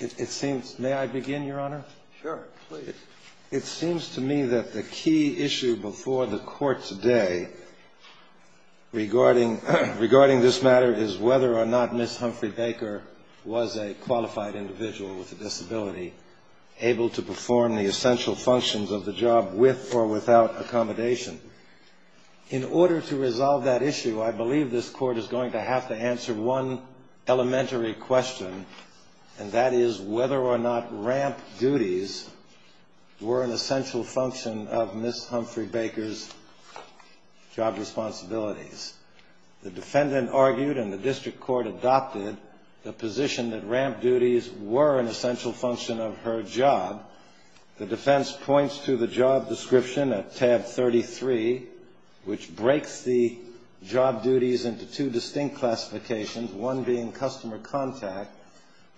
It seems to me that the key issue before the court today regarding this matter is whether or not Ms. Humphrey-Baker was a qualified individual with a disability able to perform the essential functions of the job with or without accommodation. In order to resolve that issue, I believe this court is going to have to answer one elementary question, and that is whether or not ramp duties were an essential function of Ms. Humphrey-Baker's job responsibilities. The defendant argued and the district court adopted the position that ramp duties were an essential function of her job. The defense points to the job description at tab 33, which breaks the job duties into two distinct classifications, one being customer contact,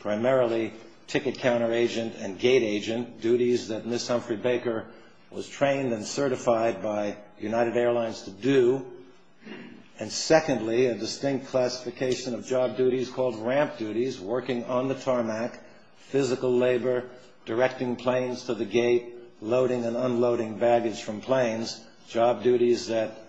primarily ticket counter agent and gate agent, duties that Ms. Humphrey-Baker was trained and certified by United Airlines to do, and secondly, a distinct classification of job duties called ramp duties, working on the tarmac, physical labor, directing planes to the gate, loading and unloading baggage from planes, job duties that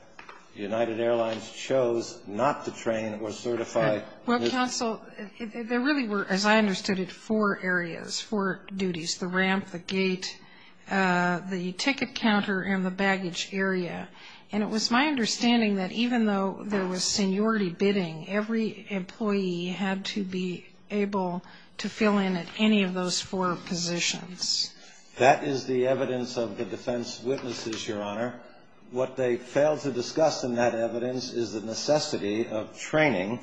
United Airlines chose not to train or certify Ms. Humphrey-Baker. Well, counsel, there really were, as I understood it, four areas, four duties, the ramp, the gate, the ticket counter, and the baggage area, and it was my understanding that even though there was seniority bidding, every employee had to be able to fill in at any of those four positions. That is the evidence of the defense witnesses, Your Honor. What they failed to discuss in that evidence is the necessity of training,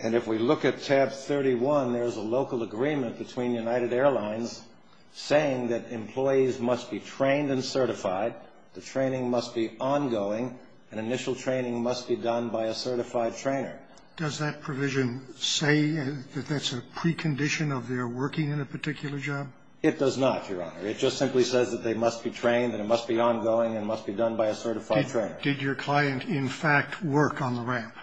and if we look at tab 31, there's a local agreement between United Airlines saying that employees must be trained and certified, the training must be ongoing, and initial training must be done by a certified trainer. Does that provision say that that's a precondition of their working in a particular job? It does not, Your Honor. It just simply says that they must be trained and it must be ongoing and it must be done by a certified trainer. Did your client, in fact, work on the ramp?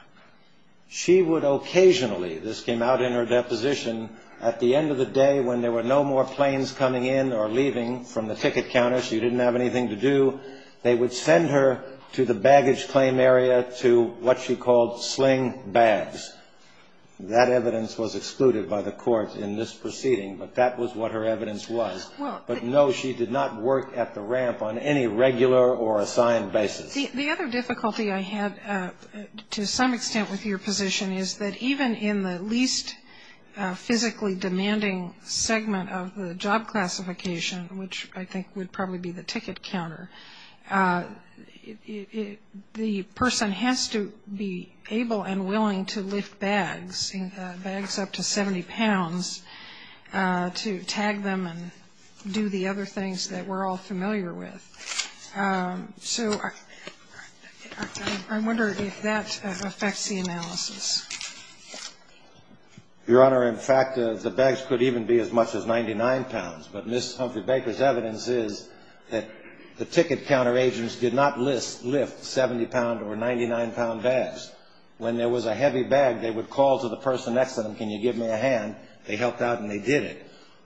She would occasionally, this came out in her deposition, at the end of the day when there were no more planes coming in or leaving from the ticket counter, she didn't have anything to do, they would send her to the baggage claim area to what she called sling bags. That evidence was excluded by the court in this proceeding, but that was what her evidence was. But no, she did not work at the ramp on any regular or assigned basis. The other difficulty I had to some extent with your position is that even in the least physically demanding segment of the job classification, which I think would probably be the bags, bags up to 70 pounds, to tag them and do the other things that we're all familiar with. So I wonder if that affects the analysis. Your Honor, in fact, the bags could even be as much as 99 pounds, but Ms. Humphrey-Baker's evidence is that the ticket counter agents did not lift 70-pound or 99-pound bags. When there was a heavy bag, they would call to the person next to them, can you give me a hand? They helped out and they did it.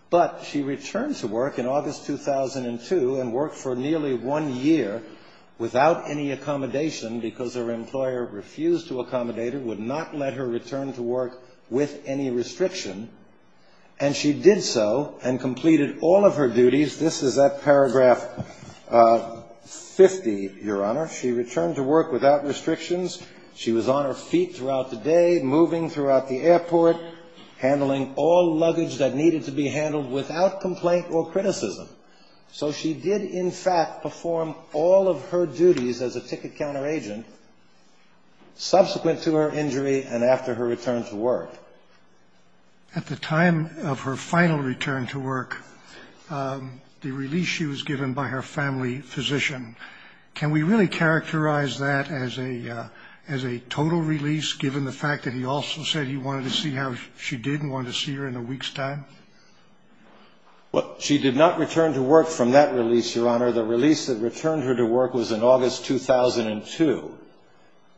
But she returned to work in August 2002 and worked for nearly one year without any accommodation because her employer refused to accommodate her, would not let her return to work with any restriction, and she did so and completed all of her duties. This is at paragraph 50, Your Honor. She returned to work without restrictions. She was on her feet throughout the day, moving throughout the airport, handling all luggage that needed to be handled without complaint or criticism. So she did, in fact, perform all of her duties as a ticket counter agent subsequent to her injury and after her return to work. At the time of her final return to work, the release she was given by her family physician, can we really characterize that as a total release given the fact that he also said he wanted to see how she did and wanted to see her in a week's time? She did not return to work from that release, Your Honor. The release that returned her to work was in August 2002.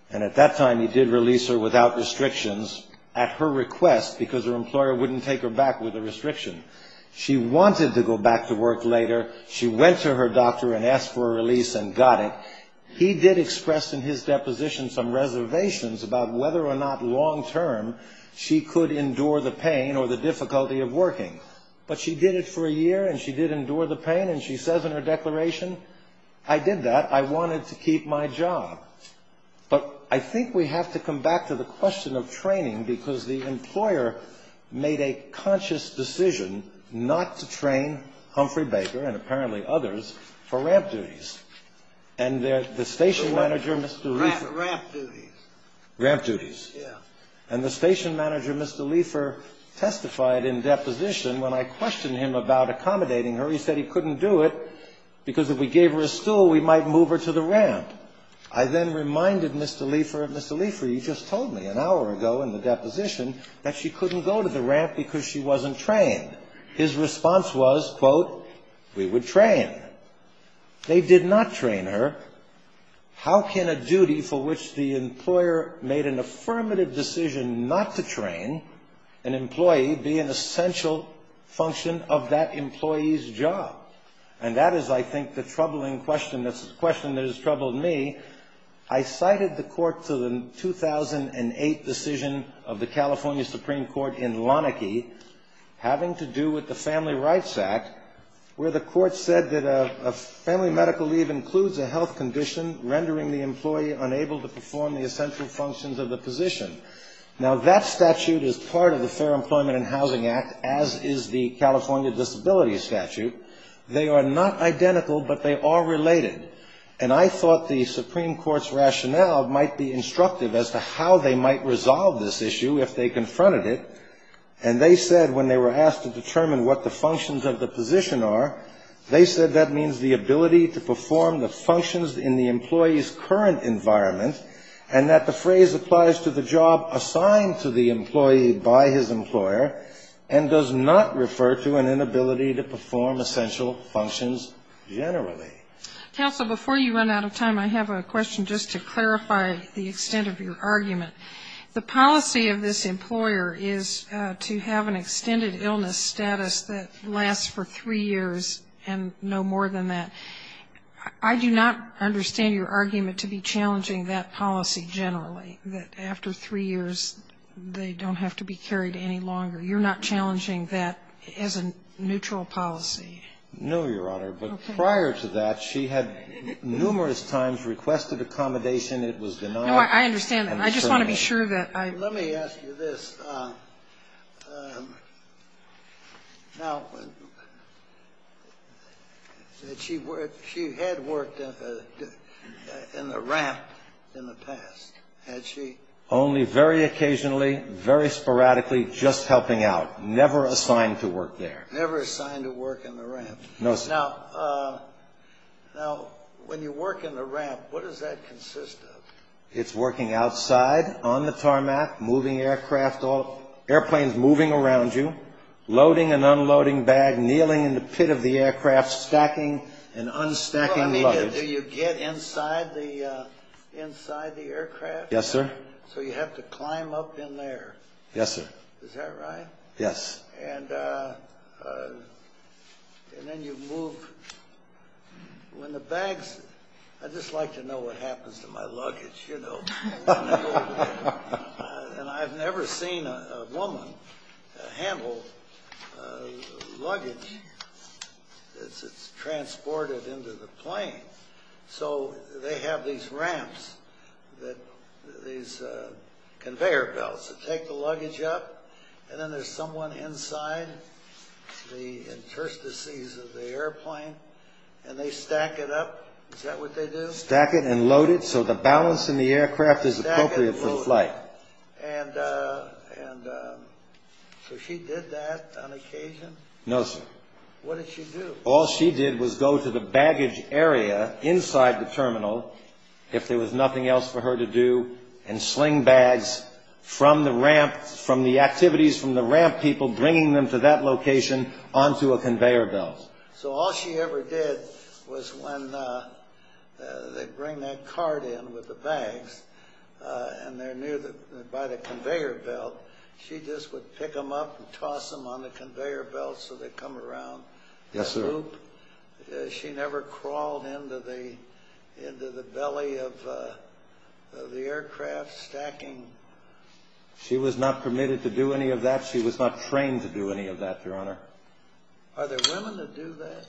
And at that time, he did release her without restrictions at her request because her employer wouldn't take her back with a restriction. She wanted to go back to work later. She went to her doctor and asked for a release and got it. He did express in his deposition some reservations about whether or not long-term she could endure the pain or the difficulty of working. But she did it for a year and she did endure the pain. And she says in her declaration, I did that. I wanted to keep my job. But I think we have to come back to the question of training because the employer made a conscious decision not to train Humphrey Baker and apparently others for ramp duties. And the station manager, Mr. Liefer. Ramp duties. Ramp duties. Yeah. And the station manager, Mr. Liefer, testified in deposition when I questioned him about accommodating her. He said he couldn't do it because if we gave her a stool, we might move her to the ramp. I then reminded Mr. Liefer of Mr. Liefer. He just told me an hour ago in the deposition that she couldn't go to the ramp because she wasn't trained. His response was, quote, we would train. They did not train her. How can a duty for which the employer made an affirmative decision not to train an employee be an essential function of that employee's job? And that is, I think, the troubling question. That's a question that has troubled me. I cited the court to the 2008 decision of the California Supreme Court in Lanikey, having to do with the Family Rights Act, where the court said that a family medical leave includes a health condition rendering the employee unable to perform the essential functions of the position. Now that statute is part of the Fair Employment and Housing Act, as is the California Disability Statute. They are not identical, but they are related. And I thought the Supreme Court's rationale might be instructive as to how they might resolve this issue if they confronted it. And they said when they were asked to determine what the functions of the position are, they said that means the ability to perform the functions in the employee's current environment, and that the phrase applies to the job assigned to the employee by his employer, and does not refer to an inability to perform essential functions generally. Counsel, before you run out of time, I have a question just to clarify the extent of your argument. The policy of this employer is to have an extended illness status that lasts for three years and no more than that. I do not understand your argument to be challenging that policy generally, that after three years, they don't have to be carried any longer. You're not challenging that as a neutral policy? No, Your Honor. But prior to that, she had numerous times requested accommodation. It was denied. No, I understand that. I just want to be sure that I'm clear. Let me ask you this. Now, she had worked in the ramp in the past, had she? Only very occasionally, very sporadically, just helping out, never assigned to work there. Never assigned to work in the ramp. Now, when you work in the ramp, what does that consist of? It's working outside on the tarmac, moving aircraft, airplanes moving around you, loading and unloading bag, kneeling in the pit of the aircraft, stacking and unstacking luggage. Do you get inside the aircraft? Yes, sir. So you have to climb up in there. Yes, sir. Is that right? Yes. And then you move. When the bags, I'd just like to know what happens to my luggage, you know. And I've never seen a woman handle luggage that's transported into the plane. So they have these ramps, these conveyor belts that take the luggage up. And then there's someone inside the interstices of the airplane and they stack it up. Is that what they do? Stack it and load it so the balance in the aircraft is appropriate for the flight. And so she did that on occasion? No, sir. What did she do? All she did was go to the baggage area inside the terminal if there was nothing else for her to do and sling bags from the ramp, from the activities from the ramp people, bringing them to that location onto a conveyor belt. So all she ever did was when they bring that cart in with the bags and they're near by the conveyor belt, she just would pick them up and toss them on the conveyor belt so they come around. Yes, sir. She never crawled into the into the belly of the aircraft stacking? She was not permitted to do any of that. She was not trained to do any of that, your honor. Are there women that do that?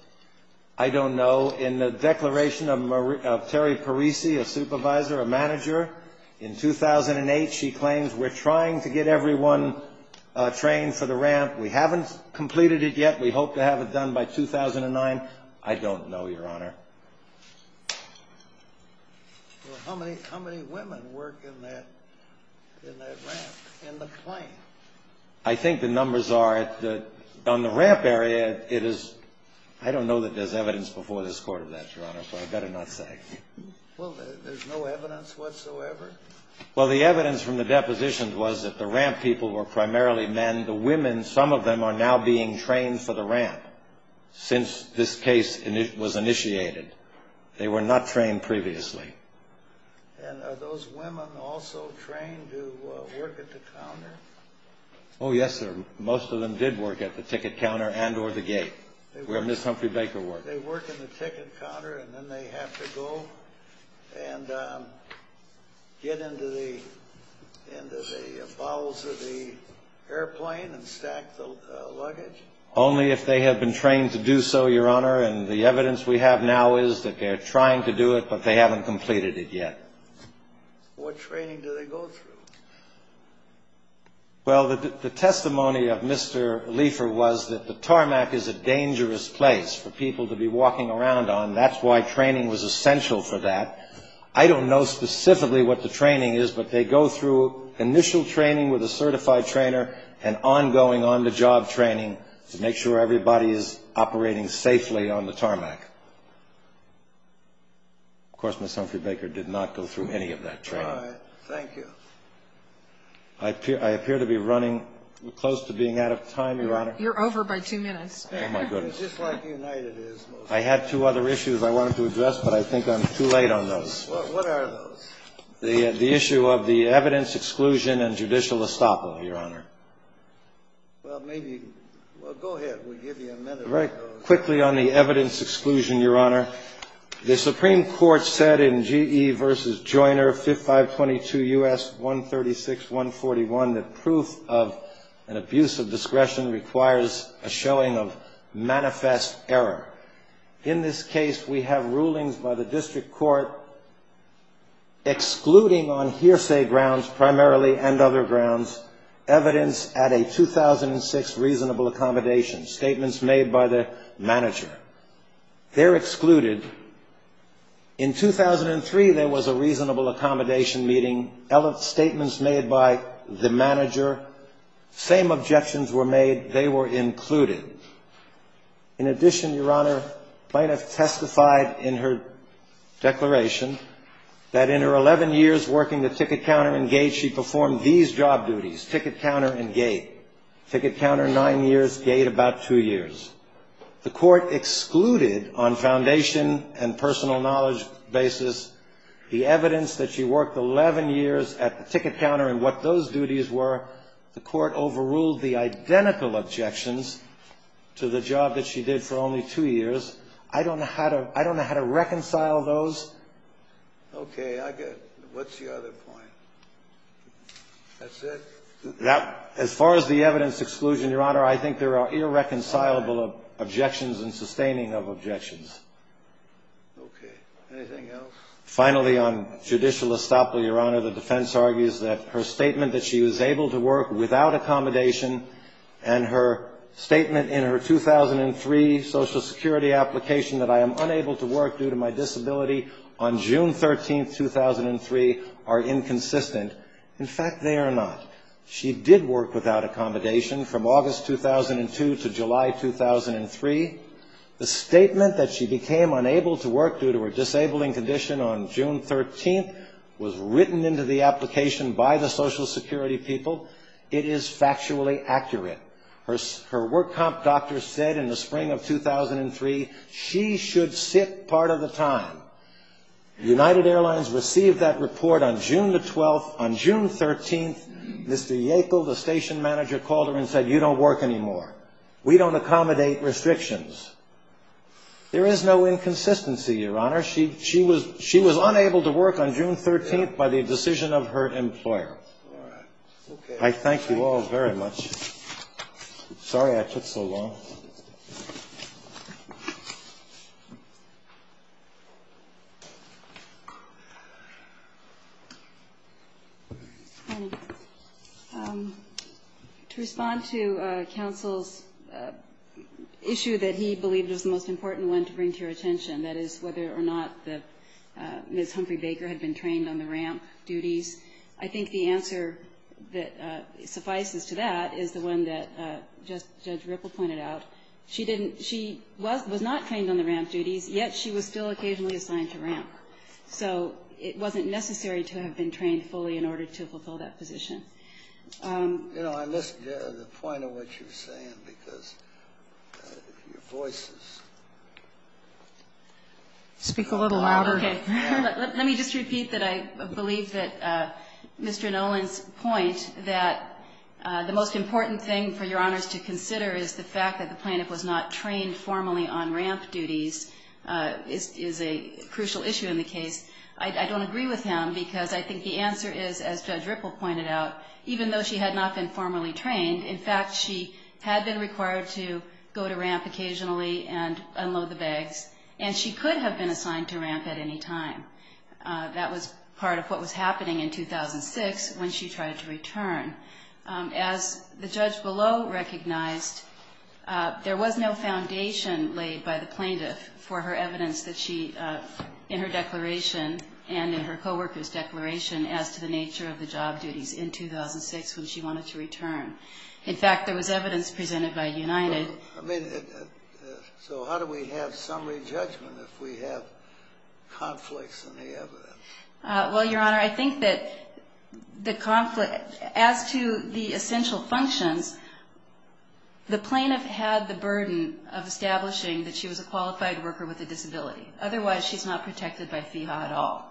I don't know. In the declaration of Terry Parisi, a supervisor, a manager in 2008, she claims we're trying to get everyone trained for the ramp. We haven't completed it yet. We hope to have it done by 2009. I don't know, your honor. How many how many women work in that in that ramp in the plane? I think the numbers are that on the ramp area, it is I don't know that there's evidence before this court of that, your honor. So I better not say, well, there's no evidence whatsoever. Well, the evidence from the depositions was that the ramp people were primarily men. The women, some of them are now being trained for the ramp since this case was initiated. They were not trained previously. And are those women also trained to work at the counter? Oh, yes, sir. Most of them did work at the ticket counter and or the gate where Ms. Humphrey Baker worked. They work in the ticket counter and then they have to go and get into the into the bowels of the airplane and stack the luggage only if they have been trained to do so, your honor. And the evidence we have now is that they're trying to do it, but they haven't completed it yet. What training do they go through? Well, the testimony of Mr. Leifer was that the tarmac is a dangerous place for people to be walking around on. That's why training was essential for that. I don't know specifically what the training is, but they go through initial training with a certified trainer and ongoing on the job training to make sure everybody is operating safely on the tarmac. Of course, Ms. Humphrey Baker did not go through any of that training. All right. Thank you. I appear to be running close to being out of time, your honor. You're over by two minutes. Oh, my goodness. Just like United is. I had two other issues I wanted to address, but I think I'm too late on those. What are the issue of the evidence exclusion and judicial estoppel, your honor? Well, maybe. Well, go ahead. We'll give you a minute right quickly on the evidence exclusion, your honor. The Supreme Court said in G.E. versus Joyner 5522 U.S. 136 141 that proof of an abuse of discretion requires a showing of manifest error. In this case, we have rulings by the district court. Excluding on hearsay grounds, primarily and other grounds, evidence at a 2006 reasonable accommodation statements made by the manager, they're excluded. In 2003, there was a reasonable accommodation meeting statements made by the manager. Same objections were made. They were included. In addition, your honor might have testified in her declaration that in her 11 years working the ticket counter and gate, she performed these job duties, ticket counter and gate, ticket counter nine years, gate about two years. The court excluded on foundation and personal knowledge basis, the evidence that she worked 11 years at the ticket counter and what those duties were. The court overruled the identical objections to the job that she did for only two years. I don't know how to I don't know how to reconcile those. OK, I get what's the other point? That's it. Now, as far as the evidence exclusion, your honor, I think there are irreconcilable objections and sustaining of objections. OK, anything else? Finally, on judicial estoppel, your honor, the defense argues that her statement that she was able to work without accommodation and her statement in her 2003 Social Security application that I am unable to work due to my disability on June 13th, 2003 are inconsistent. In fact, they are not. She did work without accommodation from August 2002 to July 2003. The statement that she became unable to work due to her disabling condition on June 13th was written into the application by the Social Security people. It is factually accurate. Her her work comp doctor said in the spring of 2003 she should sit part of the time. United Airlines received that report on June the 12th. On June 13th, Mr. Yackel, the station manager, called her and said, you don't work anymore. We don't accommodate restrictions. There is no inconsistency, your honor. She she was she was unable to work on June 13th by the decision of her employer. I thank you all very much. Sorry, I took so long. To respond to counsel's issue that he believed was the most important one to bring to your attention, that is, whether or not the Miss Humphrey Baker had been trained on the ramp duties. I think the answer that suffices to that is the one that just Judge Ripple pointed out. She didn't she was was not trained on the ramp duties, yet she was still occasionally assigned to ramp, so it wasn't necessary to have been trained fully in order to fulfill that position. You know, I missed the point of what you were saying because your voice is. Speak a little louder. Let me just repeat that I believe that Mr. Nolan's point that the most important thing for your honors to consider is the fact that the plaintiff was not trained formally on ramp duties is a crucial issue in the case. I don't agree with him because I think the answer is, as Judge Ripple pointed out, even though she had not been formally trained, in fact, she had been required to go to ramp occasionally and unload the bags. And she could have been assigned to ramp at any time. That was part of what was happening in 2006 when she tried to return. As the judge below recognized, there was no foundation laid by the plaintiff for her evidence that she, in her declaration and in her co-worker's declaration, as to the nature of the job duties in 2006 when she wanted to return. In fact, there was evidence presented by United. I mean, so how do we have summary judgment if we have conflicts in the evidence? Well, Your Honor, I think that the conflict as to the essential functions, the plaintiff had the burden of establishing that she was a qualified worker with a disability. Otherwise, she's not protected by FEHA at all.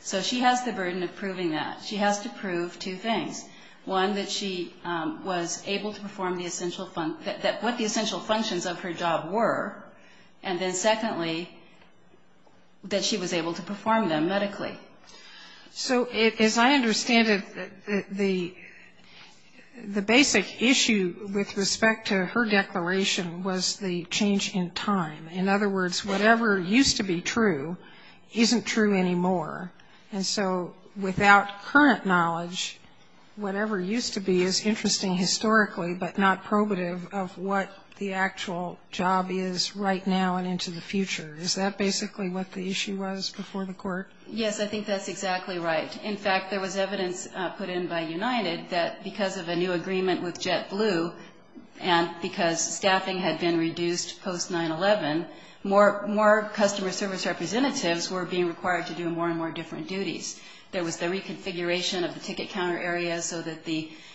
So she has the burden of proving that she has to prove two things. One, that she was able to perform the essential, that what the essential functions of her job were, and then secondly, that she was able to perform them medically. So as I understand it, the basic issue with respect to her declaration was the change in time. In other words, whatever used to be true isn't true anymore. And so without current knowledge, whatever used to be is interesting historically, but not probative of what the actual job is right now and into the future. Is that basically what the issue was before the court? Yes, I think that's exactly right. In fact, there was evidence put in by United that because of a new agreement with JetBlue and because staffing had been reduced post-9-11, more customer service representatives were being required to do more and more different duties. There was the reconfiguration of the ticket counter area so that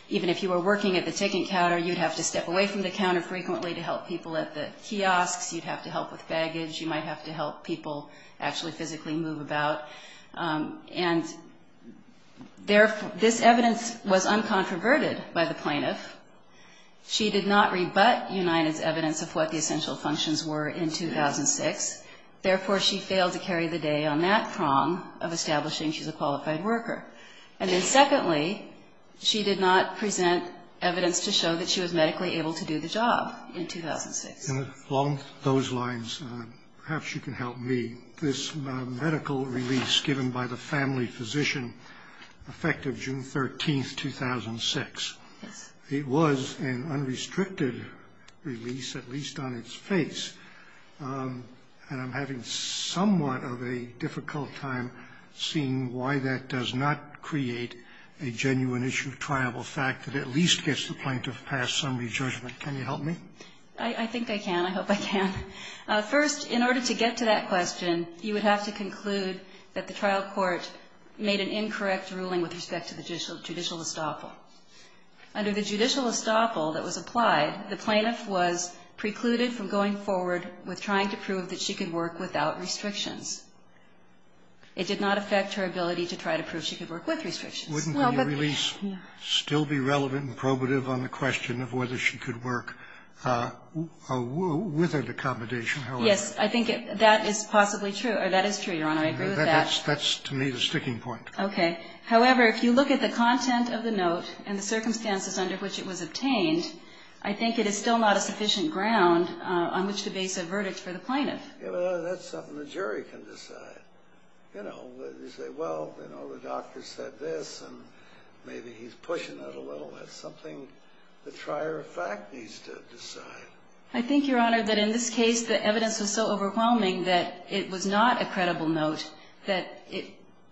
even if you were working at the ticket counter, you'd have to step away from the counter frequently to help people at the kiosks. You'd have to help with baggage. You might have to help people actually physically move about. And this evidence was uncontroverted by the plaintiff. She did not rebut United's evidence of what the essential functions were in 2006. Therefore, she failed to carry the day on that prong of establishing she's a qualified worker. And then secondly, she did not present evidence to show that she was medically able to do the job in 2006. Along those lines, perhaps you can help me. This medical release given by the family physician, effective June 13th, 2006, it was an unrestricted release, at least on its face, and I'm having somewhat of a difficult time seeing why that does not create a genuine issue of triable fact that at least gets the plaintiff past some re-judgment. Can you help me? I think I can. I hope I can. First, in order to get to that question, you would have to conclude that the trial court made an incorrect ruling with respect to the judicial estoppel. Under the judicial estoppel that was applied, the plaintiff was precluded from going forward with trying to prove that she could work without restrictions. It did not affect her ability to try to prove she could work with restrictions. Wouldn't the release still be relevant and probative on the question of whether she could work with an accommodation? Yes. I think that is possibly true. That is true, Your Honor. I agree with that. That's to me the sticking point. Okay. However, if you look at the content of the note and the circumstances under which it was obtained, I think it is still not a sufficient ground on which to base a verdict for the plaintiff. Yeah, but that's something the jury can decide. You know, you say, well, you know, the doctor said this, and maybe he's pushing it a little. That's something the trier of fact needs to decide. I think, Your Honor, that in this case, the evidence was so overwhelming that it was not a credible note, that it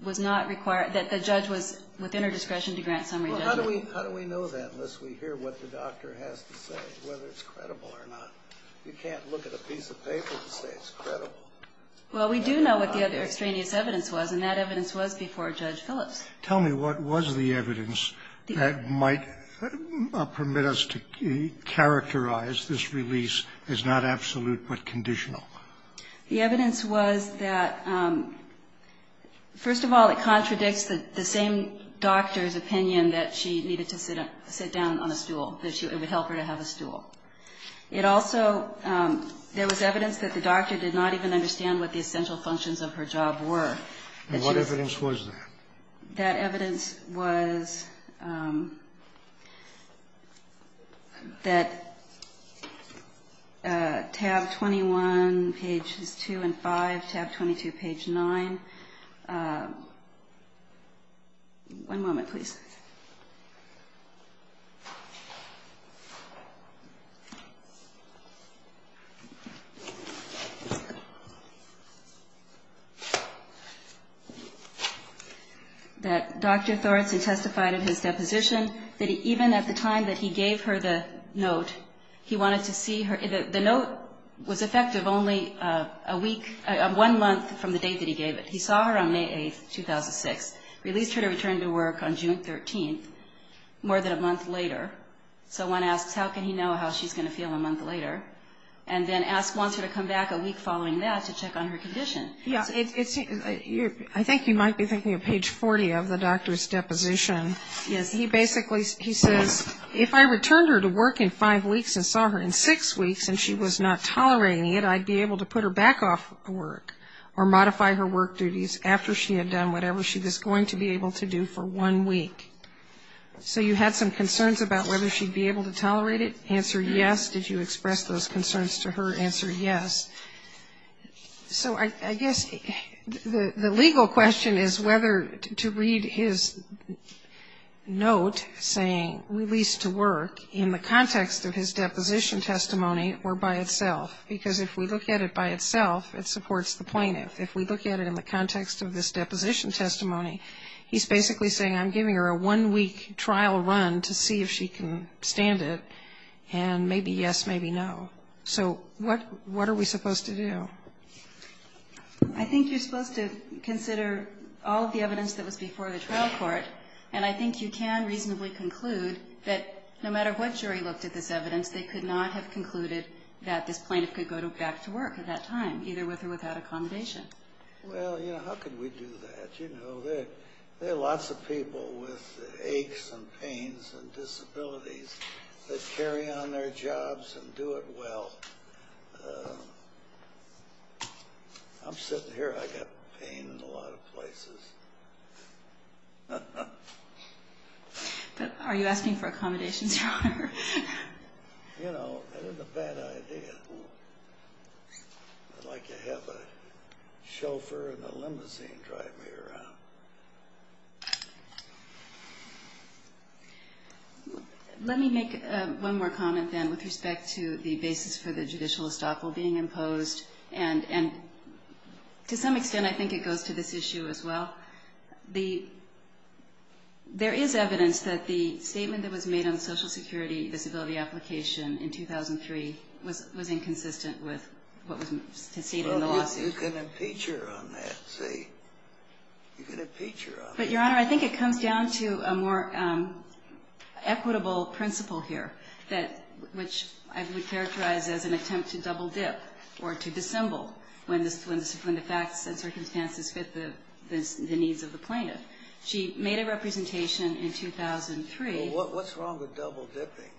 was not required, that the judge was within her discretion to grant summary judgment. Well, how do we know that unless we hear what the doctor has to say, whether it's credible or not? You can't look at a piece of paper and say it's credible. Well, we do know what the other extraneous evidence was, and that evidence was before Judge Phillips. Tell me what was the evidence that might permit us to characterize this release as not absolute but conditional? The evidence was that, first of all, it contradicts the same doctor's opinion that she needed to sit down on a stool, that it would help her to have a stool. It also, there was evidence that the doctor did not even understand what the essential functions of her job were. And what evidence was that? That evidence was that tab 21, pages 2 and 5, tab 22, page 9. One moment, please. That Dr. Thornton testified in his deposition that even at the time that he gave her the note, he wanted to see her, the note was effective only a week, one month from the date that he gave it. He saw her on May 8th, 2006, released her to return to work on June 13th, more than a month later. So one asks, how can he know how she's going to feel a month later? And then asks, wants her to come back a week following that to check on her condition. Yeah, it's, I think you might be thinking of page 40 of the doctor's deposition. Yes. He basically, he says, if I returned her to work in five weeks and saw her in six weeks and she was not tolerating it, I'd be able to put her back off work or modify her work duties after she had done whatever she was going to be able to do for one week. So you had some concerns about whether she'd be able to tolerate it? Answer, yes. Did you express those concerns to her? Answer, yes. So I guess the legal question is whether to read his note saying released to work in the context of his deposition testimony or by itself, because if we look at it by itself, it supports the plaintiff. If we look at it in the context of this deposition testimony, he's basically saying I'm giving her a one week trial run to see if she can stand it and maybe yes, maybe no. So what, what are we supposed to do? I think you're supposed to consider all of the evidence that was before the trial court. And I think you can reasonably conclude that no matter what jury looked at this evidence, they could not have concluded that this plaintiff could go back to work at that time, either with or without accommodation. Well, you know, how could we do that? You know, there, there are lots of people with aches and pains and disabilities that carry on their jobs and do it. Well, I'm sitting here, I got pain in a lot of places. But are you asking for accommodations? You know, that isn't a bad idea. I'd like to have a chauffeur and a limousine drive me around. Let me make one more comment then with respect to the basis for the judicial estoppel being imposed. And to some extent, I think it goes to this issue as well. The, there is evidence that the statement that was made on the social security disability application in 2003 was, was inconsistent with what was stated in the lawsuit. You can impeach her on that, see? You can impeach her on that. But Your Honor, I think it comes down to a more equitable principle here that, which I would characterize as an attempt to double dip or to dissemble. When the facts and circumstances fit the needs of the plaintiff. She made a representation in 2003. Well, what's wrong with double dipping?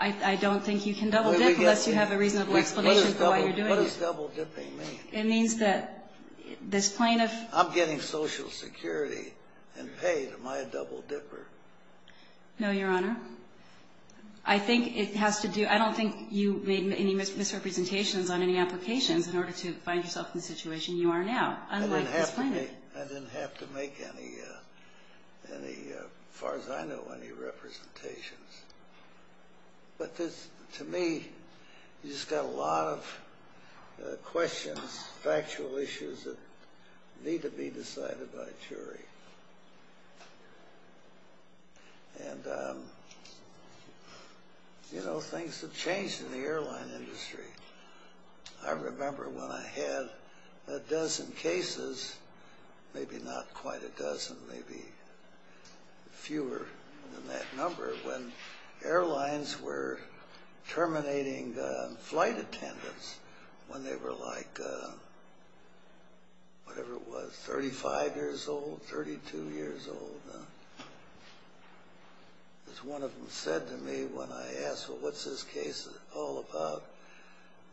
I don't think you can double dip unless you have a reasonable explanation for why you're doing it. What does double dipping mean? It means that this plaintiff. I'm getting social security and paid. Am I a double dipper? No, Your Honor. Your Honor, I think it has to do, I don't think you made any misrepresentations on any applications in order to find yourself in the situation you are now, unlike this plaintiff. I didn't have to make any, as far as I know, any representations. But this, to me, you just got a lot of questions, factual issues that need to be decided by a jury. And, you know, things have changed in the airline industry. I remember when I had a dozen cases, maybe not quite a dozen, maybe fewer than that number, when airlines were terminating flight attendants when they were like, whatever it was, 35 years old? 32 years old. As one of them said to me when I asked, well, what's this case all about?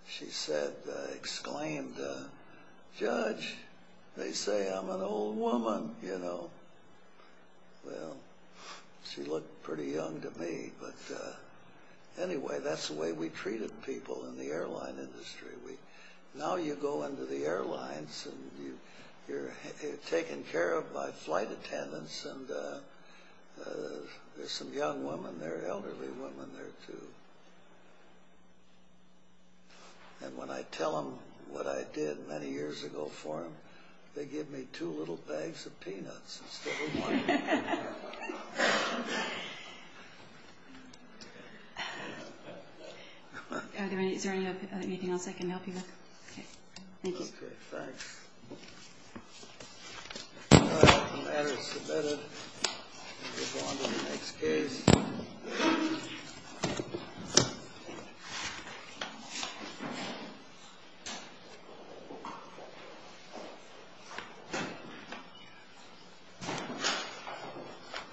She said, exclaimed, Judge, they say I'm an old woman, you know? Well, she looked pretty young to me. But anyway, that's the way we treated people in the airline industry. Now you go into the airlines, and you're taken care of by flight attendants, and there's some young women there, elderly women there, too. And when I tell them what I did many years ago for them, they give me two little bags of peanuts instead of one. Is there anything else I can help you with? Thank you.